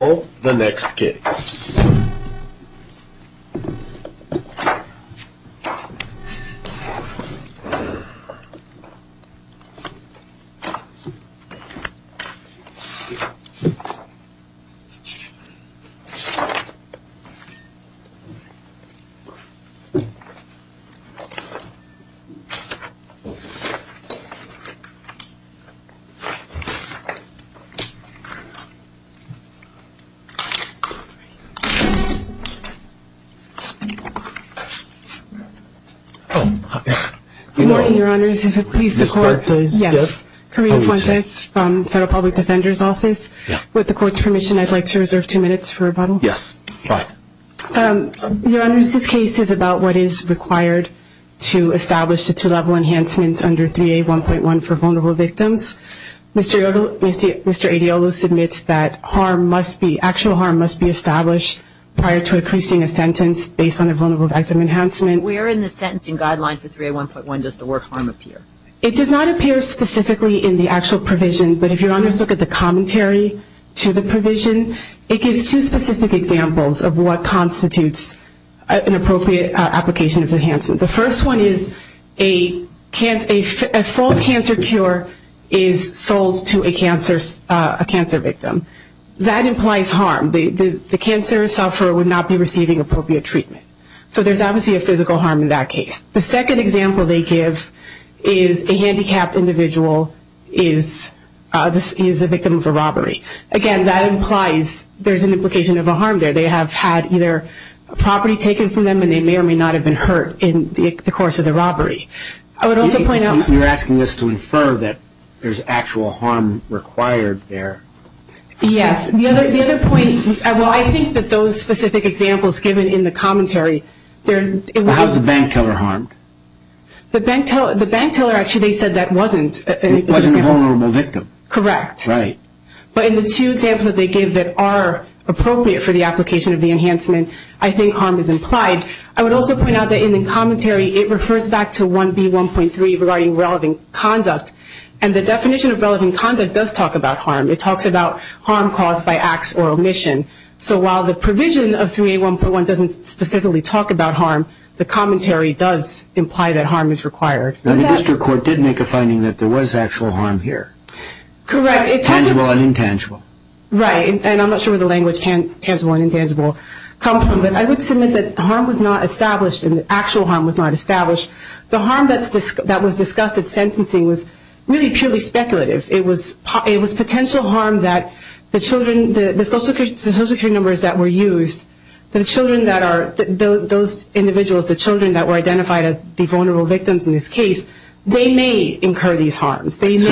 Well, the next case. Corina Fuentes from Federal Public Defender's Office. With the Court's permission, I'd like to reserve two minutes for rebuttal. Your Honor, this case is about what is required to establish the two-level enhancements under 3A1.1 for vulnerable victims. Mr. Adeolu submits that actual harm must be established prior to increasing a sentence based on a vulnerable victim enhancement. Where in the sentencing guideline for 3A1.1 does the word harm appear? It does not appear specifically in the actual provision, but if Your Honor looks at the commentary to the provision, it gives two specific examples of what constitutes an appropriate application of enhancement. The first one is a false cancer cure is sold to a cancer victim. That implies harm. The cancer sufferer would not be receiving appropriate treatment. So there's obviously a physical harm in that case. The second example they give is a handicapped individual is a victim of a robbery. Again, that implies there's an implication of a harm there. They have had either property taken from them and they may or may not have been hurt in the course of the robbery. I would also point out... You're asking us to infer that there's actual harm required there. Yes. The other point... Well, I think that those specific examples given in the commentary... How's the bank teller harmed? The bank teller, actually, they said that wasn't... It wasn't a vulnerable victim. Correct. Right. But in the two examples that they give that are appropriate for the application of the enhancement, I think harm is implied. I would also point out that in the commentary, it refers back to 1B1.3 regarding relevant conduct. And the definition of relevant conduct does talk about harm. It talks about harm caused by acts or omission. So while the provision of 3A1.1 doesn't specifically talk about harm, the commentary does imply that harm is required. The district court did make a finding that there was actual harm here. Correct. Tangible and intangible. Right. And I'm not sure where the language tangible and intangible come from. But I would submit that harm was not established and that actual harm was not established. The harm that was discussed at sentencing was really purely speculative. It was potential harm that the social security numbers that were used, the children that are... Those individuals, the children that were identified as the vulnerable victims in this case, they may incur these harms. So is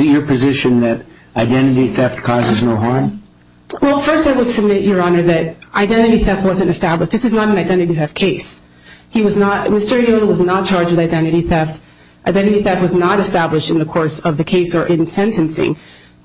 it your position that identity theft causes no harm? Well, first I would submit, Your Honor, that identity theft wasn't established. This is not an identity theft case. Mr. Ayola was not charged with identity theft. Identity theft was not established in the course of the case or in sentencing.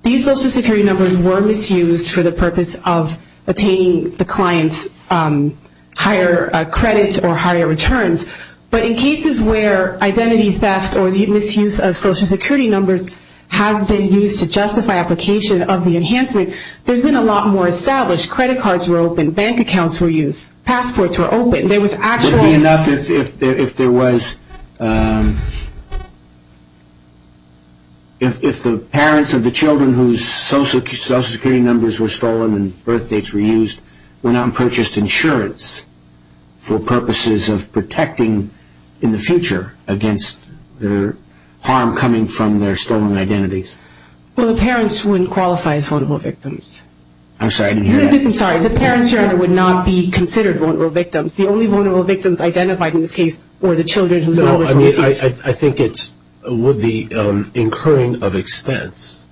These social security numbers were misused for the purpose of attaining the client's higher credit or higher returns. But in cases where identity theft or the misuse of social security numbers has been used to justify application of the enhancement, there's been a lot more established. Credit cards were opened. Bank accounts were used. Passports were opened. There was actual... Would it be enough if there was... If the parents of the children whose social security numbers were stolen and birth dates were used were not purchased insurance for purposes of protecting in the future against the harm coming from their stolen identities? Well, the parents wouldn't qualify as vulnerable victims. I'm sorry, I didn't hear that. I'm sorry. The parents, Your Honor, would not be considered vulnerable victims. The only vulnerable victims identified in this case were the children whose numbers were misused. I think it's... Would the incurring of expense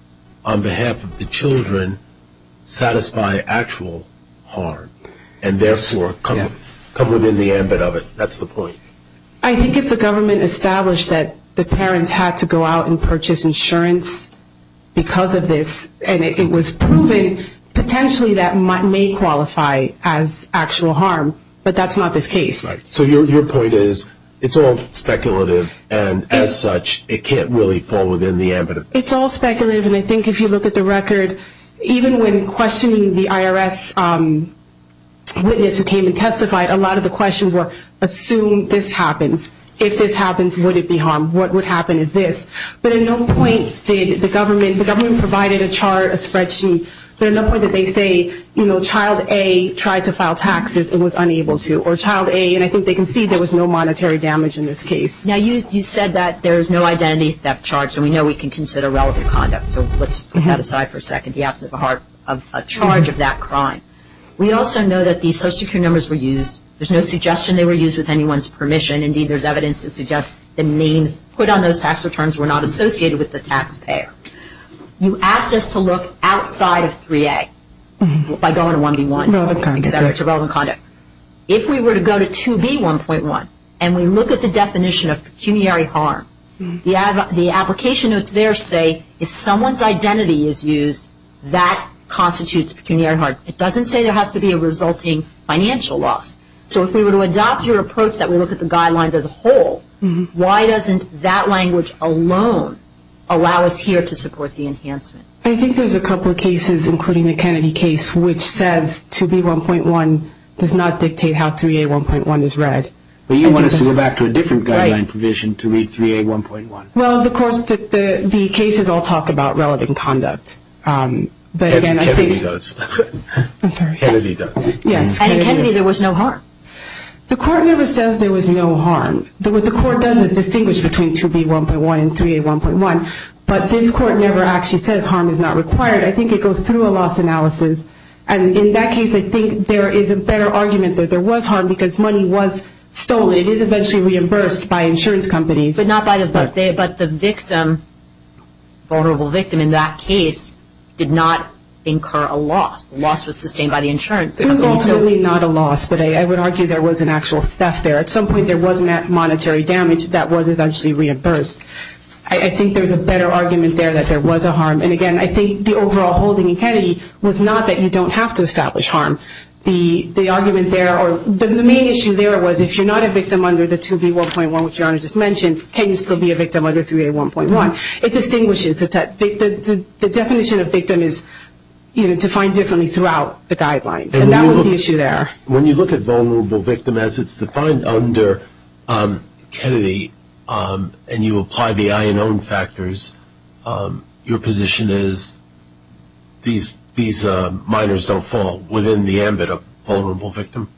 on behalf of the children satisfy actual harm and therefore come within the ambit of it? That's the point. I think it's the government established that the parents had to go out and purchase insurance because of this, and it was proven potentially that may qualify as actual harm, but that's not this case. So your point is it's all speculative, and as such, it can't really fall within the ambit of this? It's all speculative, and I think if you look at the record, even when questioning the IRS witness who came and testified, a lot of the questions were, assume this happens. If this happens, would it be harm? What would happen if this? But at no point did the government... The government provided a chart, a spreadsheet, but at no point did they say, you know, it was unable to, or child A, and I think they concede there was no monetary damage in this case. Now, you said that there is no identity theft charge, and we know we can consider relevant conduct, so let's put that aside for a second. The absence of a charge of that crime. We also know that these social security numbers were used. There's no suggestion they were used with anyone's permission. Indeed, there's evidence to suggest the names put on those tax returns were not associated with the taxpayer. You asked us to look outside of 3A by going to 1B1. To relevant conduct. To relevant conduct. If we were to go to 2B1.1 and we look at the definition of pecuniary harm, the application notes there say if someone's identity is used, that constitutes pecuniary harm. It doesn't say there has to be a resulting financial loss. So if we were to adopt your approach that we look at the guidelines as a whole, why doesn't that language alone allow us here to support the enhancement? I think there's a couple of cases, including the Kennedy case, which says 2B1.1 does not dictate how 3A1.1 is read. But you want us to go back to a different guideline provision to read 3A1.1. Well, of course, the cases all talk about relevant conduct. Kennedy does. I'm sorry. Kennedy does. Yes. And in Kennedy there was no harm. The court never says there was no harm. What the court does is distinguish between 2B1.1 and 3A1.1, but this court never actually says harm is not required. I think it goes through a loss analysis, and in that case I think there is a better argument that there was harm because money was stolen. It is eventually reimbursed by insurance companies. But the victim, vulnerable victim in that case, did not incur a loss. The loss was sustained by the insurance company. It was ultimately not a loss, but I would argue there was an actual theft there. At some point there was monetary damage that was eventually reimbursed. I think there is a better argument there that there was a harm. And, again, I think the overall holding in Kennedy was not that you don't have to establish harm. The argument there or the main issue there was if you're not a victim under the 2B1.1, which Your Honor just mentioned, can you still be a victim under 3A1.1? It distinguishes. The definition of victim is defined differently throughout the guidelines, and that was the issue there. When you look at vulnerable victim as it's defined under Kennedy and you apply the I and O factors, your position is these minors don't fall within the ambit of vulnerable victim?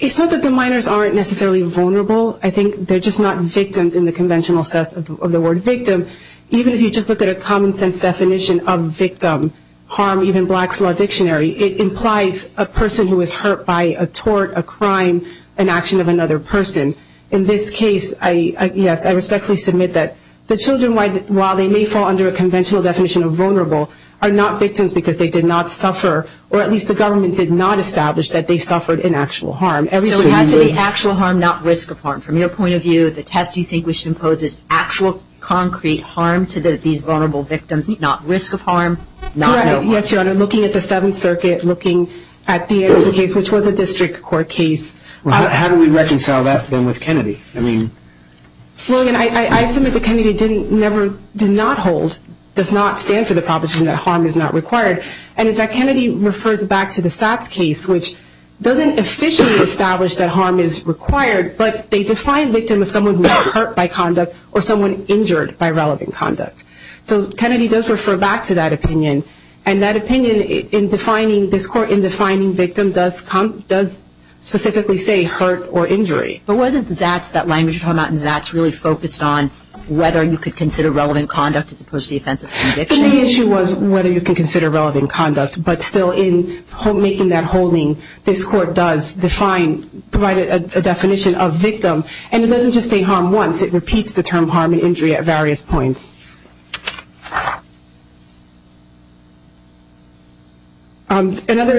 It's not that the minors aren't necessarily vulnerable. I think they're just not victims in the conventional sense of the word victim. Even if you just look at a common sense definition of victim, harm, even Black's Law Dictionary, it implies a person who is hurt by a tort, a crime, an action of another person. In this case, yes, I respectfully submit that the children, while they may fall under a conventional definition of vulnerable, are not victims because they did not suffer, or at least the government did not establish that they suffered an actual harm. So it has to be actual harm, not risk of harm. From your point of view, the test you think we should impose is actual concrete harm to these vulnerable victims, not risk of harm, not no harm. Yes, Your Honor, looking at the Seventh Circuit, looking at the Anderson case, which was a district court case. How do we reconcile that then with Kennedy? I submit that Kennedy did not hold, does not stand for the proposition that harm is not required. In fact, Kennedy refers back to the Satz case, which doesn't officially establish that harm is required, but they define victim as someone who is hurt by conduct or someone injured by relevant conduct. So Kennedy does refer back to that opinion, and that opinion in defining this court, in defining victim, does specifically say hurt or injury. But wasn't the Satz, that language you're talking about in Satz, really focused on whether you could consider relevant conduct as opposed to the offense of conviction? The issue was whether you could consider relevant conduct, but still in making that holding, this court does provide a definition of victim, and it doesn't just say harm once. It repeats the term harm and injury at various points. Another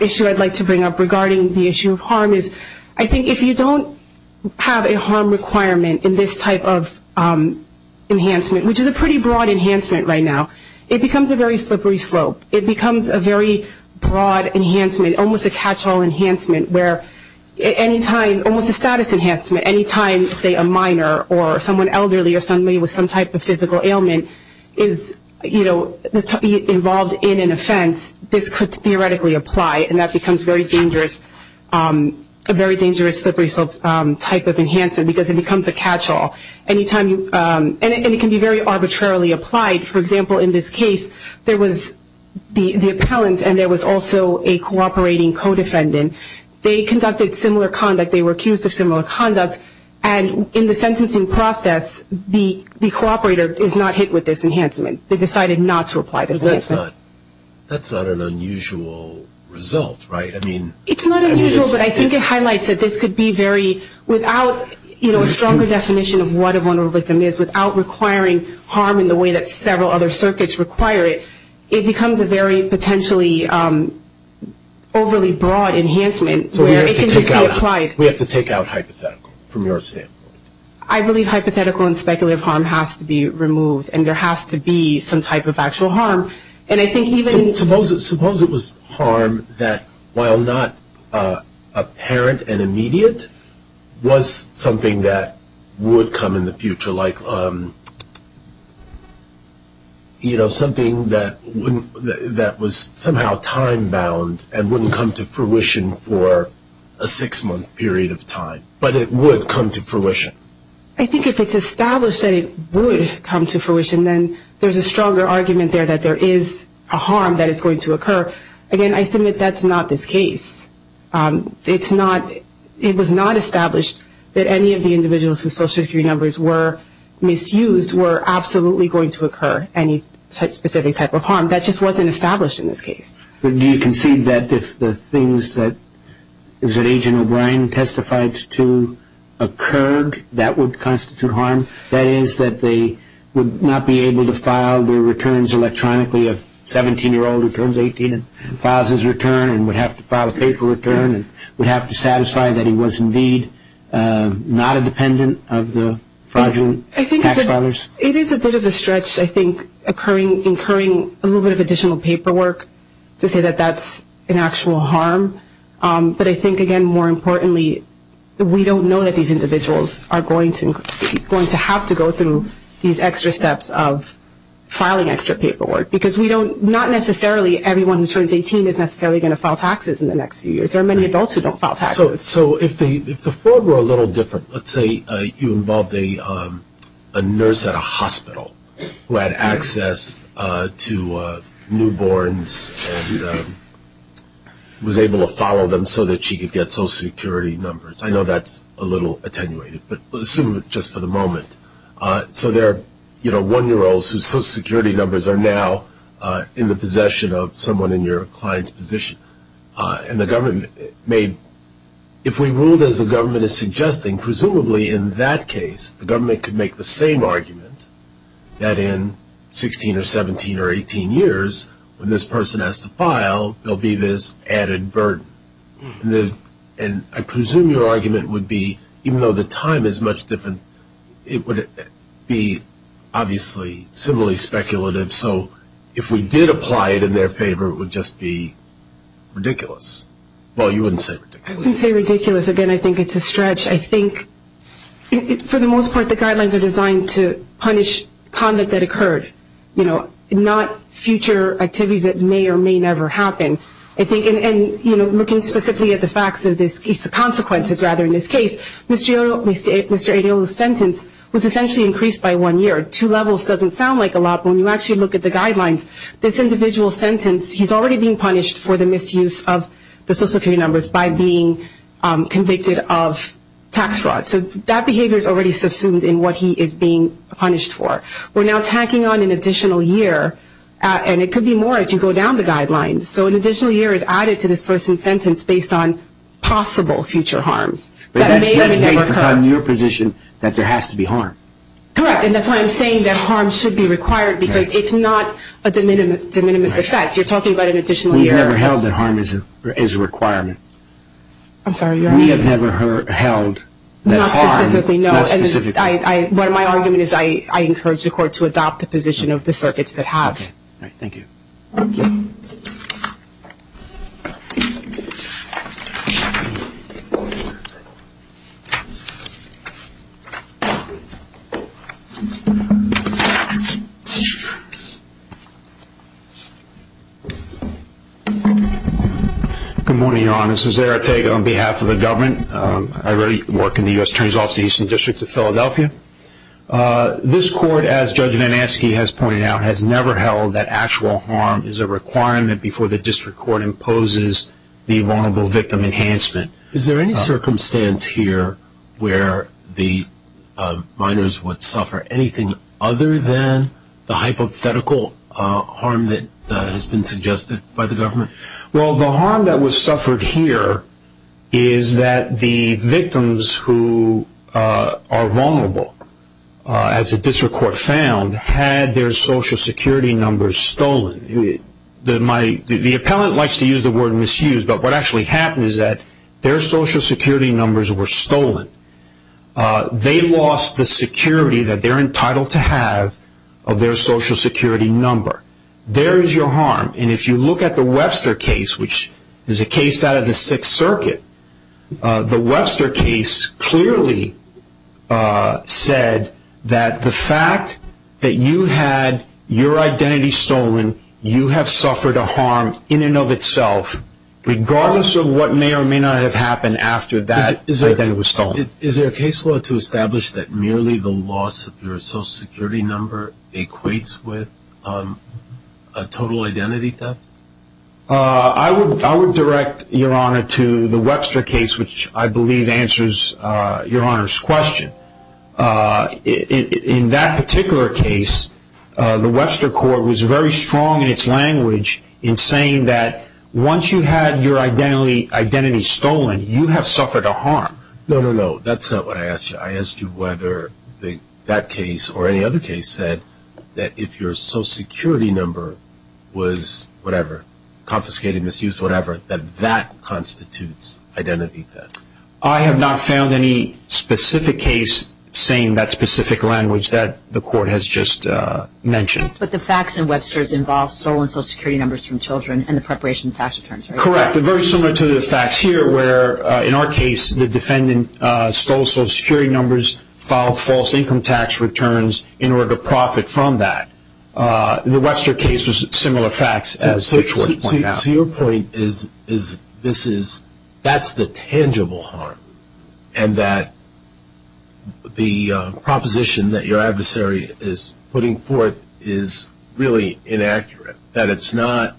issue I'd like to bring up regarding the issue of harm is, I think if you don't have a harm requirement in this type of enhancement, which is a pretty broad enhancement right now, it becomes a very slippery slope. It becomes a very broad enhancement, almost a catchall enhancement, where any time, almost a status enhancement, any time say a minor or someone elderly or somebody with some type of physical ailment is, you know, involved in an offense, this could theoretically apply, and that becomes very dangerous, a very dangerous slippery slope type of enhancement because it becomes a catchall. And it can be very arbitrarily applied. For example, in this case, there was the appellant, and there was also a cooperating co-defendant. They conducted similar conduct. They were accused of similar conduct, and in the sentencing process, the cooperator is not hit with this enhancement. They decided not to apply this enhancement. That's not an unusual result, right? It's not unusual, but I think it highlights that this could be very, without, you know, a stronger definition of what a vulnerable victim is, without requiring harm in the way that several other circuits require it, it becomes a very potentially overly broad enhancement where it can just be applied. So we have to take out hypothetical from your standpoint. I believe hypothetical and speculative harm has to be removed, and there has to be some type of actual harm. And I think even – Suppose it was harm that, while not apparent and immediate, was something that would come in the future, like, you know, something that was somehow time-bound and wouldn't come to fruition for a six-month period of time, but it would come to fruition. I think if it's established that it would come to fruition, then there's a stronger argument there that there is a harm that is going to occur. Again, I submit that's not this case. It's not – it was not established that any of the individuals whose social security numbers were misused were absolutely going to occur any specific type of harm. That just wasn't established in this case. But do you concede that if the things that Agent O'Brien testified to occurred, that would constitute harm? That is, that they would not be able to file their returns electronically, a 17-year-old who turns 18 and files his return and would have to file a paper return and would have to satisfy that he was indeed not a dependent of the fraudulent tax filers? It is a bit of a stretch, I think, incurring a little bit of additional paperwork to say that that's an actual harm. But I think, again, more importantly, we don't know that these individuals are going to have to go through these extra steps of filing extra paperwork, because we don't – not necessarily everyone who turns 18 is necessarily going to file taxes in the next few years. There are many adults who don't file taxes. So if the fraud were a little different, let's say you involved a nurse at a hospital who had access to newborns and was able to follow them so that she could get social security numbers. I know that's a little attenuated, but assume it just for the moment. So there are one-year-olds whose social security numbers are now in the possession of someone in your client's position. And the government may – if we ruled as the government is suggesting, presumably in that case the government could make the same argument that in 16 or 17 or 18 years, when this person has to file, there will be this added burden. And I presume your argument would be, even though the time is much different, it would be obviously similarly speculative. So if we did apply it in their favor, it would just be ridiculous. Well, you wouldn't say ridiculous. I wouldn't say ridiculous. Again, I think it's a stretch. I think for the most part the guidelines are designed to punish conduct that occurred, not future activities that may or may never happen. And looking specifically at the facts of this case, the consequences rather in this case, Mr. Adeolu's sentence was essentially increased by one year. Two levels doesn't sound like a lot, but when you actually look at the guidelines, this individual's sentence, he's already being punished for the misuse of the social security numbers by being convicted of tax fraud. So that behavior is already subsumed in what he is being punished for. We're now tacking on an additional year, and it could be more if you go down the guidelines. So an additional year is added to this person's sentence based on possible future harms. But that's just based upon your position that there has to be harm. Correct, and that's why I'm saying that harm should be required because it's not a de minimis effect. You're talking about an additional year. We've never held that harm is a requirement. I'm sorry, your honor. We have never held that harm. Not specifically, no. Not specifically. What my argument is I encourage the court to adopt the position of the circuits that have. All right, thank you. Good morning, your honor. This is Zeratega on behalf of the government. I already work in the U.S. Attorney's Office of the Eastern District of Philadelphia. This court, as Judge VanAskey has pointed out, has never held that actual harm is a requirement before the district court imposes the vulnerable victim enhancement. Is there any circumstance here where the minors would suffer anything other than the hypothetical harm that has been suggested by the government? Well, the harm that was suffered here is that the victims who are vulnerable, as the district court found, had their social security numbers stolen. The appellant likes to use the word misused, but what actually happened is that their social security numbers were stolen. They lost the security that they're entitled to have of their social security number. There is your harm. And if you look at the Webster case, which is a case out of the Sixth Circuit, the Webster case clearly said that the fact that you had your identity stolen, you have suffered a harm in and of itself regardless of what may or may not have happened after that identity was stolen. Is there a case law to establish that merely the loss of your social security number equates with a total identity theft? I would direct, Your Honor, to the Webster case, which I believe answers Your Honor's question. In that particular case, the Webster court was very strong in its language in saying that once you had your identity stolen, you have suffered a harm. No, no, no, that's not what I asked you. I asked you whether that case or any other case said that if your social security number was whatever, confiscated, misused, whatever, that that constitutes identity theft. I have not found any specific case saying that specific language that the court has just mentioned. But the facts in Webster's involve stolen social security numbers from children and the preparation of tax returns, right? Correct. Very similar to the facts here where, in our case, the defendant stole social security numbers, filed false income tax returns in order to profit from that. The Webster case was similar facts as the court pointed out. So your point is this is, that's the tangible harm, and that the proposition that your adversary is putting forth is really inaccurate, that it's not,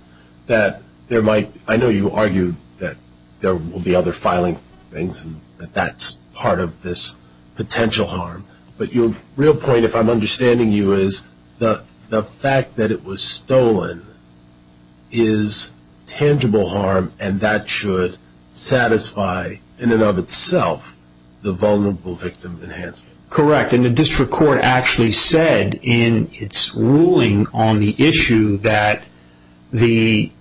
that there might, I know you argued that there will be other filing things, and that that's part of this potential harm. But your real point, if I'm understanding you, is the fact that it was stolen is tangible harm, and that should satisfy, in and of itself, the vulnerable victim enhancement. Correct. And the district court actually said, in its ruling on the issue, that the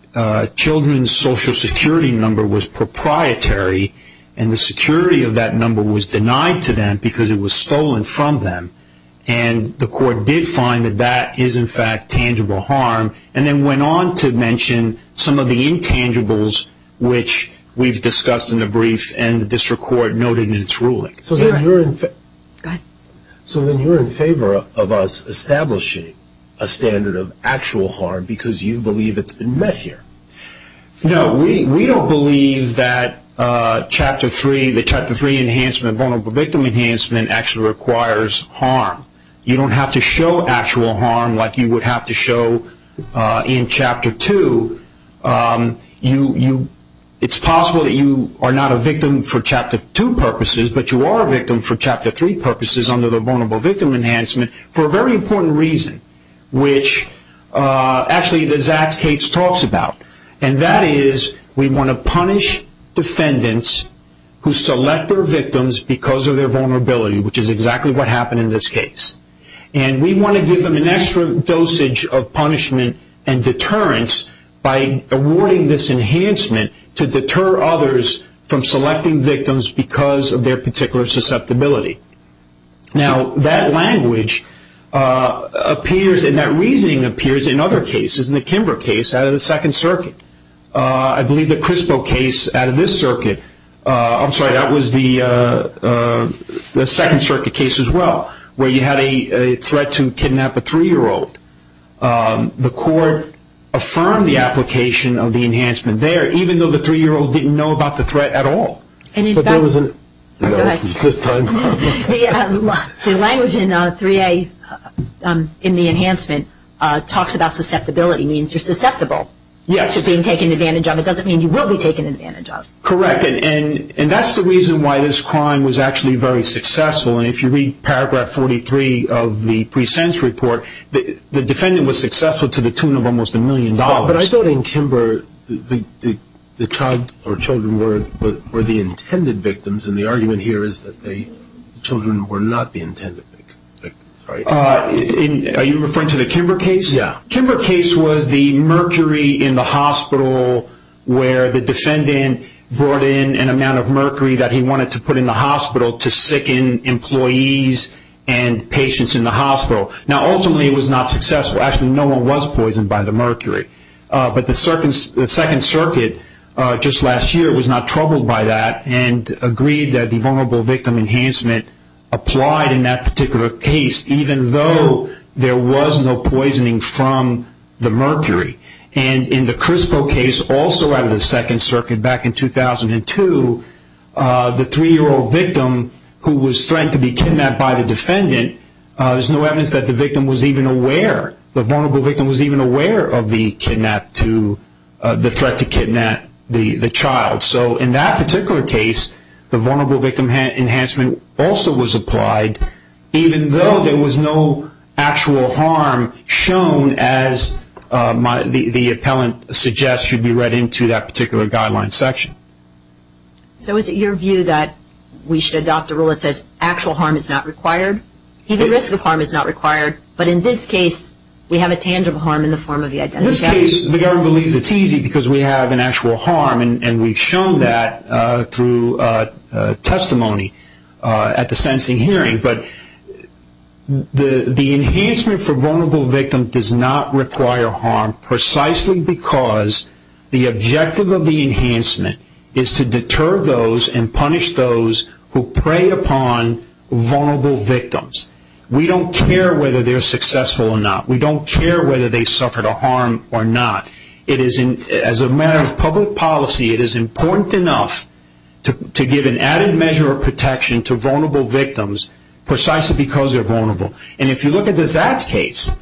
children's social security number was proprietary, and the security of that number was denied to them because it was stolen from them. And the court did find that that is, in fact, tangible harm, and then went on to mention some of the intangibles which we've discussed in the brief, and the district court noted in its ruling. Go ahead. So then you're in favor of us establishing a standard of actual harm because you believe it's been met here. No, we don't believe that Chapter 3, the Chapter 3 enhancement, vulnerable victim enhancement, actually requires harm. You don't have to show actual harm like you would have to show in Chapter 2. It's possible that you are not a victim for Chapter 2 purposes, but you are a victim for Chapter 3 purposes under the vulnerable victim enhancement for a very important reason, which actually the Zaks case talks about, and that is we want to punish defendants who select their victims because of their vulnerability, which is exactly what happened in this case. And we want to give them an extra dosage of punishment and deterrence by awarding this enhancement to deter others from selecting victims because of their particular susceptibility. Now, that language appears and that reasoning appears in other cases, in the Kimber case out of the Second Circuit. I believe the Crispo case out of this circuit, I'm sorry, that was the Second Circuit case as well, where you had a threat to kidnap a three-year-old. The court affirmed the application of the enhancement there, even though the three-year-old didn't know about the threat at all. But there was a... The language in 3A in the enhancement talks about susceptibility, means you're susceptible to being taken advantage of. It doesn't mean you will be taken advantage of. Correct, and that's the reason why this crime was actually very successful, and if you read paragraph 43 of the pre-sense report, the defendant was successful to the tune of almost a million dollars. But I thought in Kimber the child or children were the intended victims, and the argument here is that the children were not the intended victims, right? Are you referring to the Kimber case? Yeah. Kimber case was the mercury in the hospital where the defendant brought in an amount of mercury that he wanted to put in the hospital to sicken employees and patients in the hospital. Now, ultimately it was not successful. Actually, no one was poisoned by the mercury. But the Second Circuit just last year was not troubled by that and agreed that the vulnerable victim enhancement applied in that particular case, even though there was no poisoning from the mercury. And in the Crispo case, also out of the Second Circuit back in 2002, the three-year-old victim who was threatened to be kidnapped by the defendant, there's no evidence that the victim was even aware, the vulnerable victim was even aware of the threat to kidnap the child. So in that particular case, the vulnerable victim enhancement also was applied, even though there was no actual harm shown as the appellant suggests should be read into that particular guideline section. So is it your view that we should adopt a rule that says actual harm is not required? The risk of harm is not required, but in this case we have a tangible harm in the form of the identity theft? In this case, the government believes it's easy because we have an actual harm, and we've shown that through testimony at the sentencing hearing. But the enhancement for vulnerable victim does not require harm precisely because the objective of the enhancement is to deter those and punish those who prey upon vulnerable victims. We don't care whether they're successful or not. We don't care whether they suffered a harm or not. As a matter of public policy, it is important enough to give an added measure of protection to vulnerable victims precisely because they're vulnerable. And if you look at the Zatz case,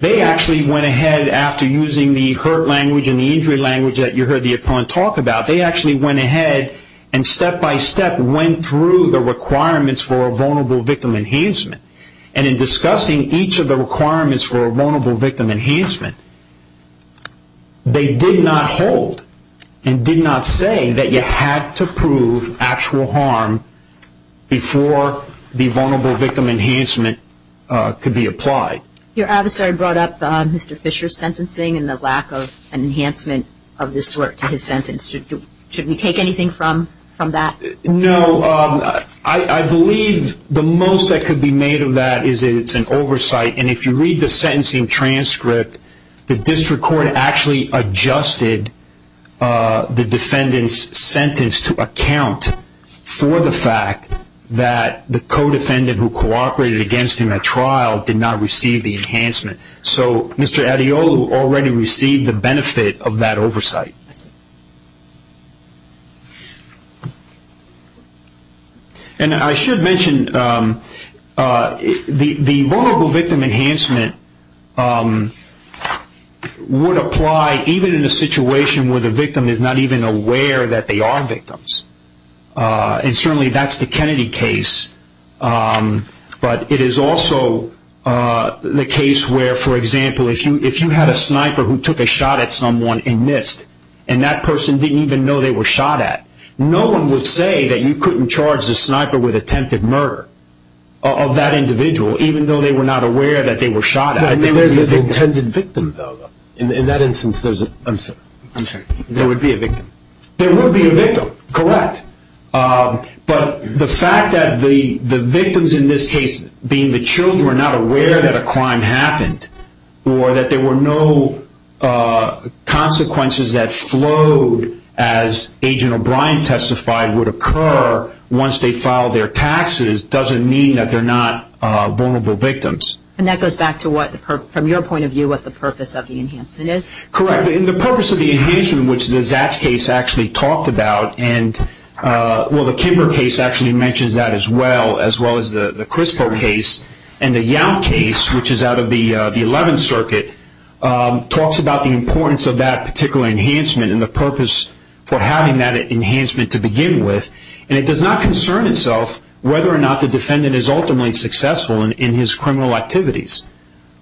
they actually went ahead, after using the hurt language and the injury language that you heard the appellant talk about, they actually went ahead and step by step went through the requirements for a vulnerable victim enhancement. And in discussing each of the requirements for a vulnerable victim enhancement, they did not hold and did not say that you had to prove actual harm before the vulnerable victim enhancement could be applied. Your adversary brought up Mr. Fisher's sentencing and the lack of enhancement of this sort to his sentence. Should we take anything from that? No. I believe the most that could be made of that is it's an oversight. And if you read the sentencing transcript, the district court actually adjusted the defendant's sentence to account for the fact that the co-defendant who cooperated against him at trial did not receive the enhancement. So Mr. Adeolu already received the benefit of that oversight. And I should mention the vulnerable victim enhancement would apply even in a situation where the victim is not even aware that they are victims. And certainly that's the Kennedy case. But it is also the case where, for example, if you had a sniper who took a shot at someone in NIST and that person didn't even know they were shot at, no one would say that you couldn't charge the sniper with attempted murder of that individual, even though they were not aware that they were shot at. But there's an intended victim, though. In that instance, there's a – I'm sorry. I'm sorry. There would be a victim. There would be a victim, correct. But the fact that the victims in this case, being the children, were not aware that a crime happened or that there were no consequences that flowed as Agent O'Brien testified would occur once they filed their taxes doesn't mean that they're not vulnerable victims. And that goes back to what, from your point of view, what the purpose of the enhancement is? Correct. The purpose of the enhancement, which the Zatz case actually talked about, and well, the Kimber case actually mentions that as well, as well as the Crispo case, and the Yount case, which is out of the 11th Circuit, talks about the importance of that particular enhancement and the purpose for having that enhancement to begin with. And it does not concern itself whether or not the defendant is ultimately successful in his criminal activities.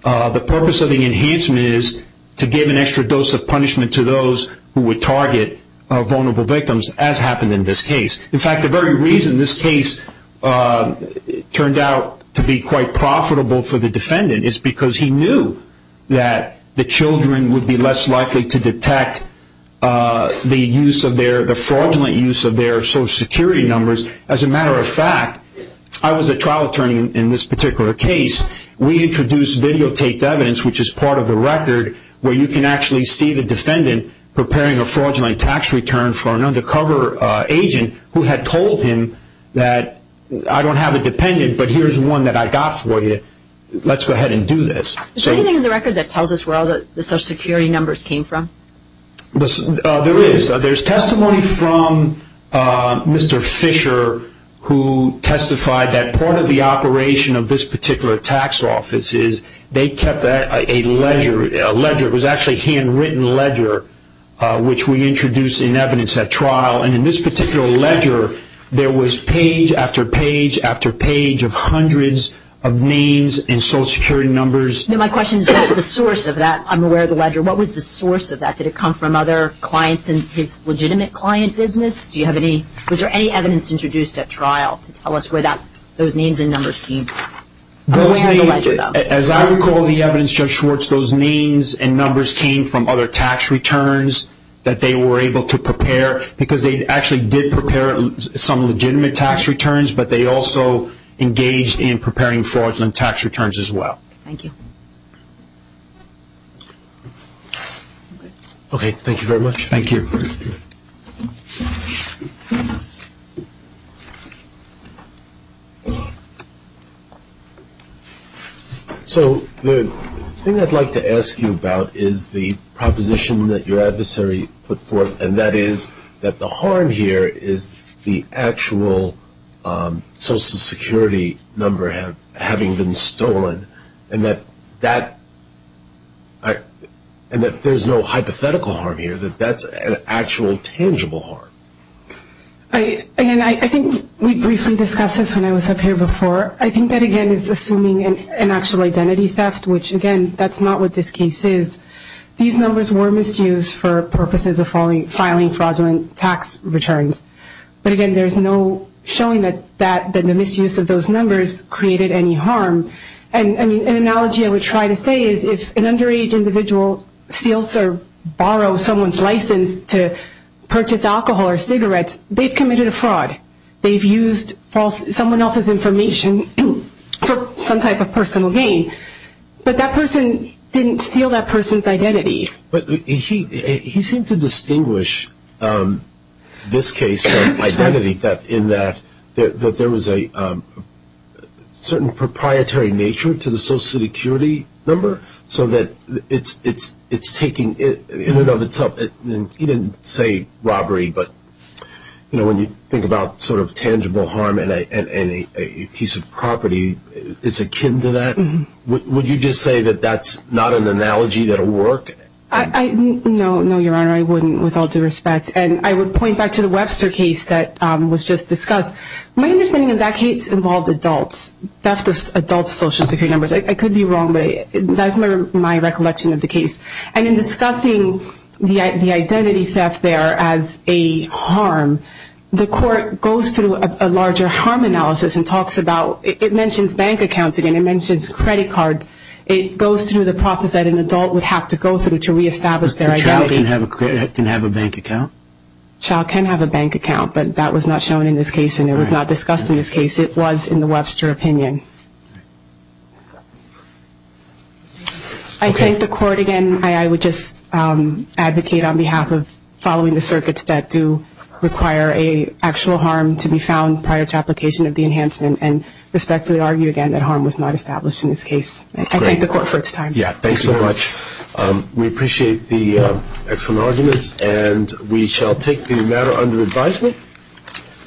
The purpose of the enhancement is to give an extra dose of punishment to those who would target vulnerable victims, as happened in this case. In fact, the very reason this case turned out to be quite profitable for the defendant is because he knew that the children would be less likely to detect the use of their – the fraudulent use of their Social Security numbers. As a matter of fact, I was a trial attorney in this particular case. We introduced videotaped evidence, which is part of the record, where you can actually see the defendant preparing a fraudulent tax return for an undercover agent who had told him that I don't have a dependent, but here's one that I got for you. Let's go ahead and do this. Is there anything in the record that tells us where all the Social Security numbers came from? There is. There's testimony from Mr. Fisher, who testified that part of the operation of this particular tax office is they kept a ledger. It was actually a handwritten ledger, which we introduced in evidence at trial. And in this particular ledger, there was page after page after page of hundreds of names and Social Security numbers. My question is, what was the source of that? I'm aware of the ledger. What was the source of that? Did it come from other clients in his legitimate client business? Was there any evidence introduced at trial to tell us where those names and numbers came from? I'm aware of the ledger, though. As I recall the evidence, Judge Schwartz, those names and numbers came from other tax returns that they were able to prepare because they actually did prepare some legitimate tax returns, but they also engaged in preparing fraudulent tax returns as well. Thank you. Okay. Thank you very much. Thank you. So the thing I'd like to ask you about is the proposition that your adversary put forth, and that is that the harm here is the actual Social Security number having been stolen, and that there's no hypothetical harm here, that that's an actual tangible harm. Again, I think we briefly discussed this when I was up here before. I think that, again, is assuming an actual identity theft, which, again, that's not what this case is. These numbers were misused for purposes of filing fraudulent tax returns. But, again, there's no showing that the misuse of those numbers created any harm. An analogy I would try to say is if an underage individual steals or borrows someone's license to purchase alcohol or cigarettes, they've committed a fraud. They've used someone else's information for some type of personal gain. But that person didn't steal that person's identity. But he seemed to distinguish this case from identity theft in that there was a certain proprietary nature to the Social Security number so that it's taking in and of itself. He didn't say robbery, but, you know, when you think about sort of tangible harm and a piece of property that's akin to that, would you just say that that's not an analogy that'll work? No, no, Your Honor, I wouldn't, with all due respect. And I would point back to the Webster case that was just discussed. My understanding of that case involved adult theft of adult Social Security numbers. I could be wrong, but that's my recollection of the case. And in discussing the identity theft there as a harm, the court goes through a larger harm analysis and talks about, it mentions bank accounts again. It mentions credit cards. It goes through the process that an adult would have to go through to reestablish their identity. A child can have a bank account? A child can have a bank account, but that was not shown in this case and it was not discussed in this case. It was in the Webster opinion. I think the court, again, I would just advocate on behalf of following the circuits that do require an actual harm to be found prior to application of the enhancement and respectfully argue again that harm was not established in this case. I thank the court for its time. Yeah, thanks so much. We appreciate the excellent arguments and we shall take the matter under advisement.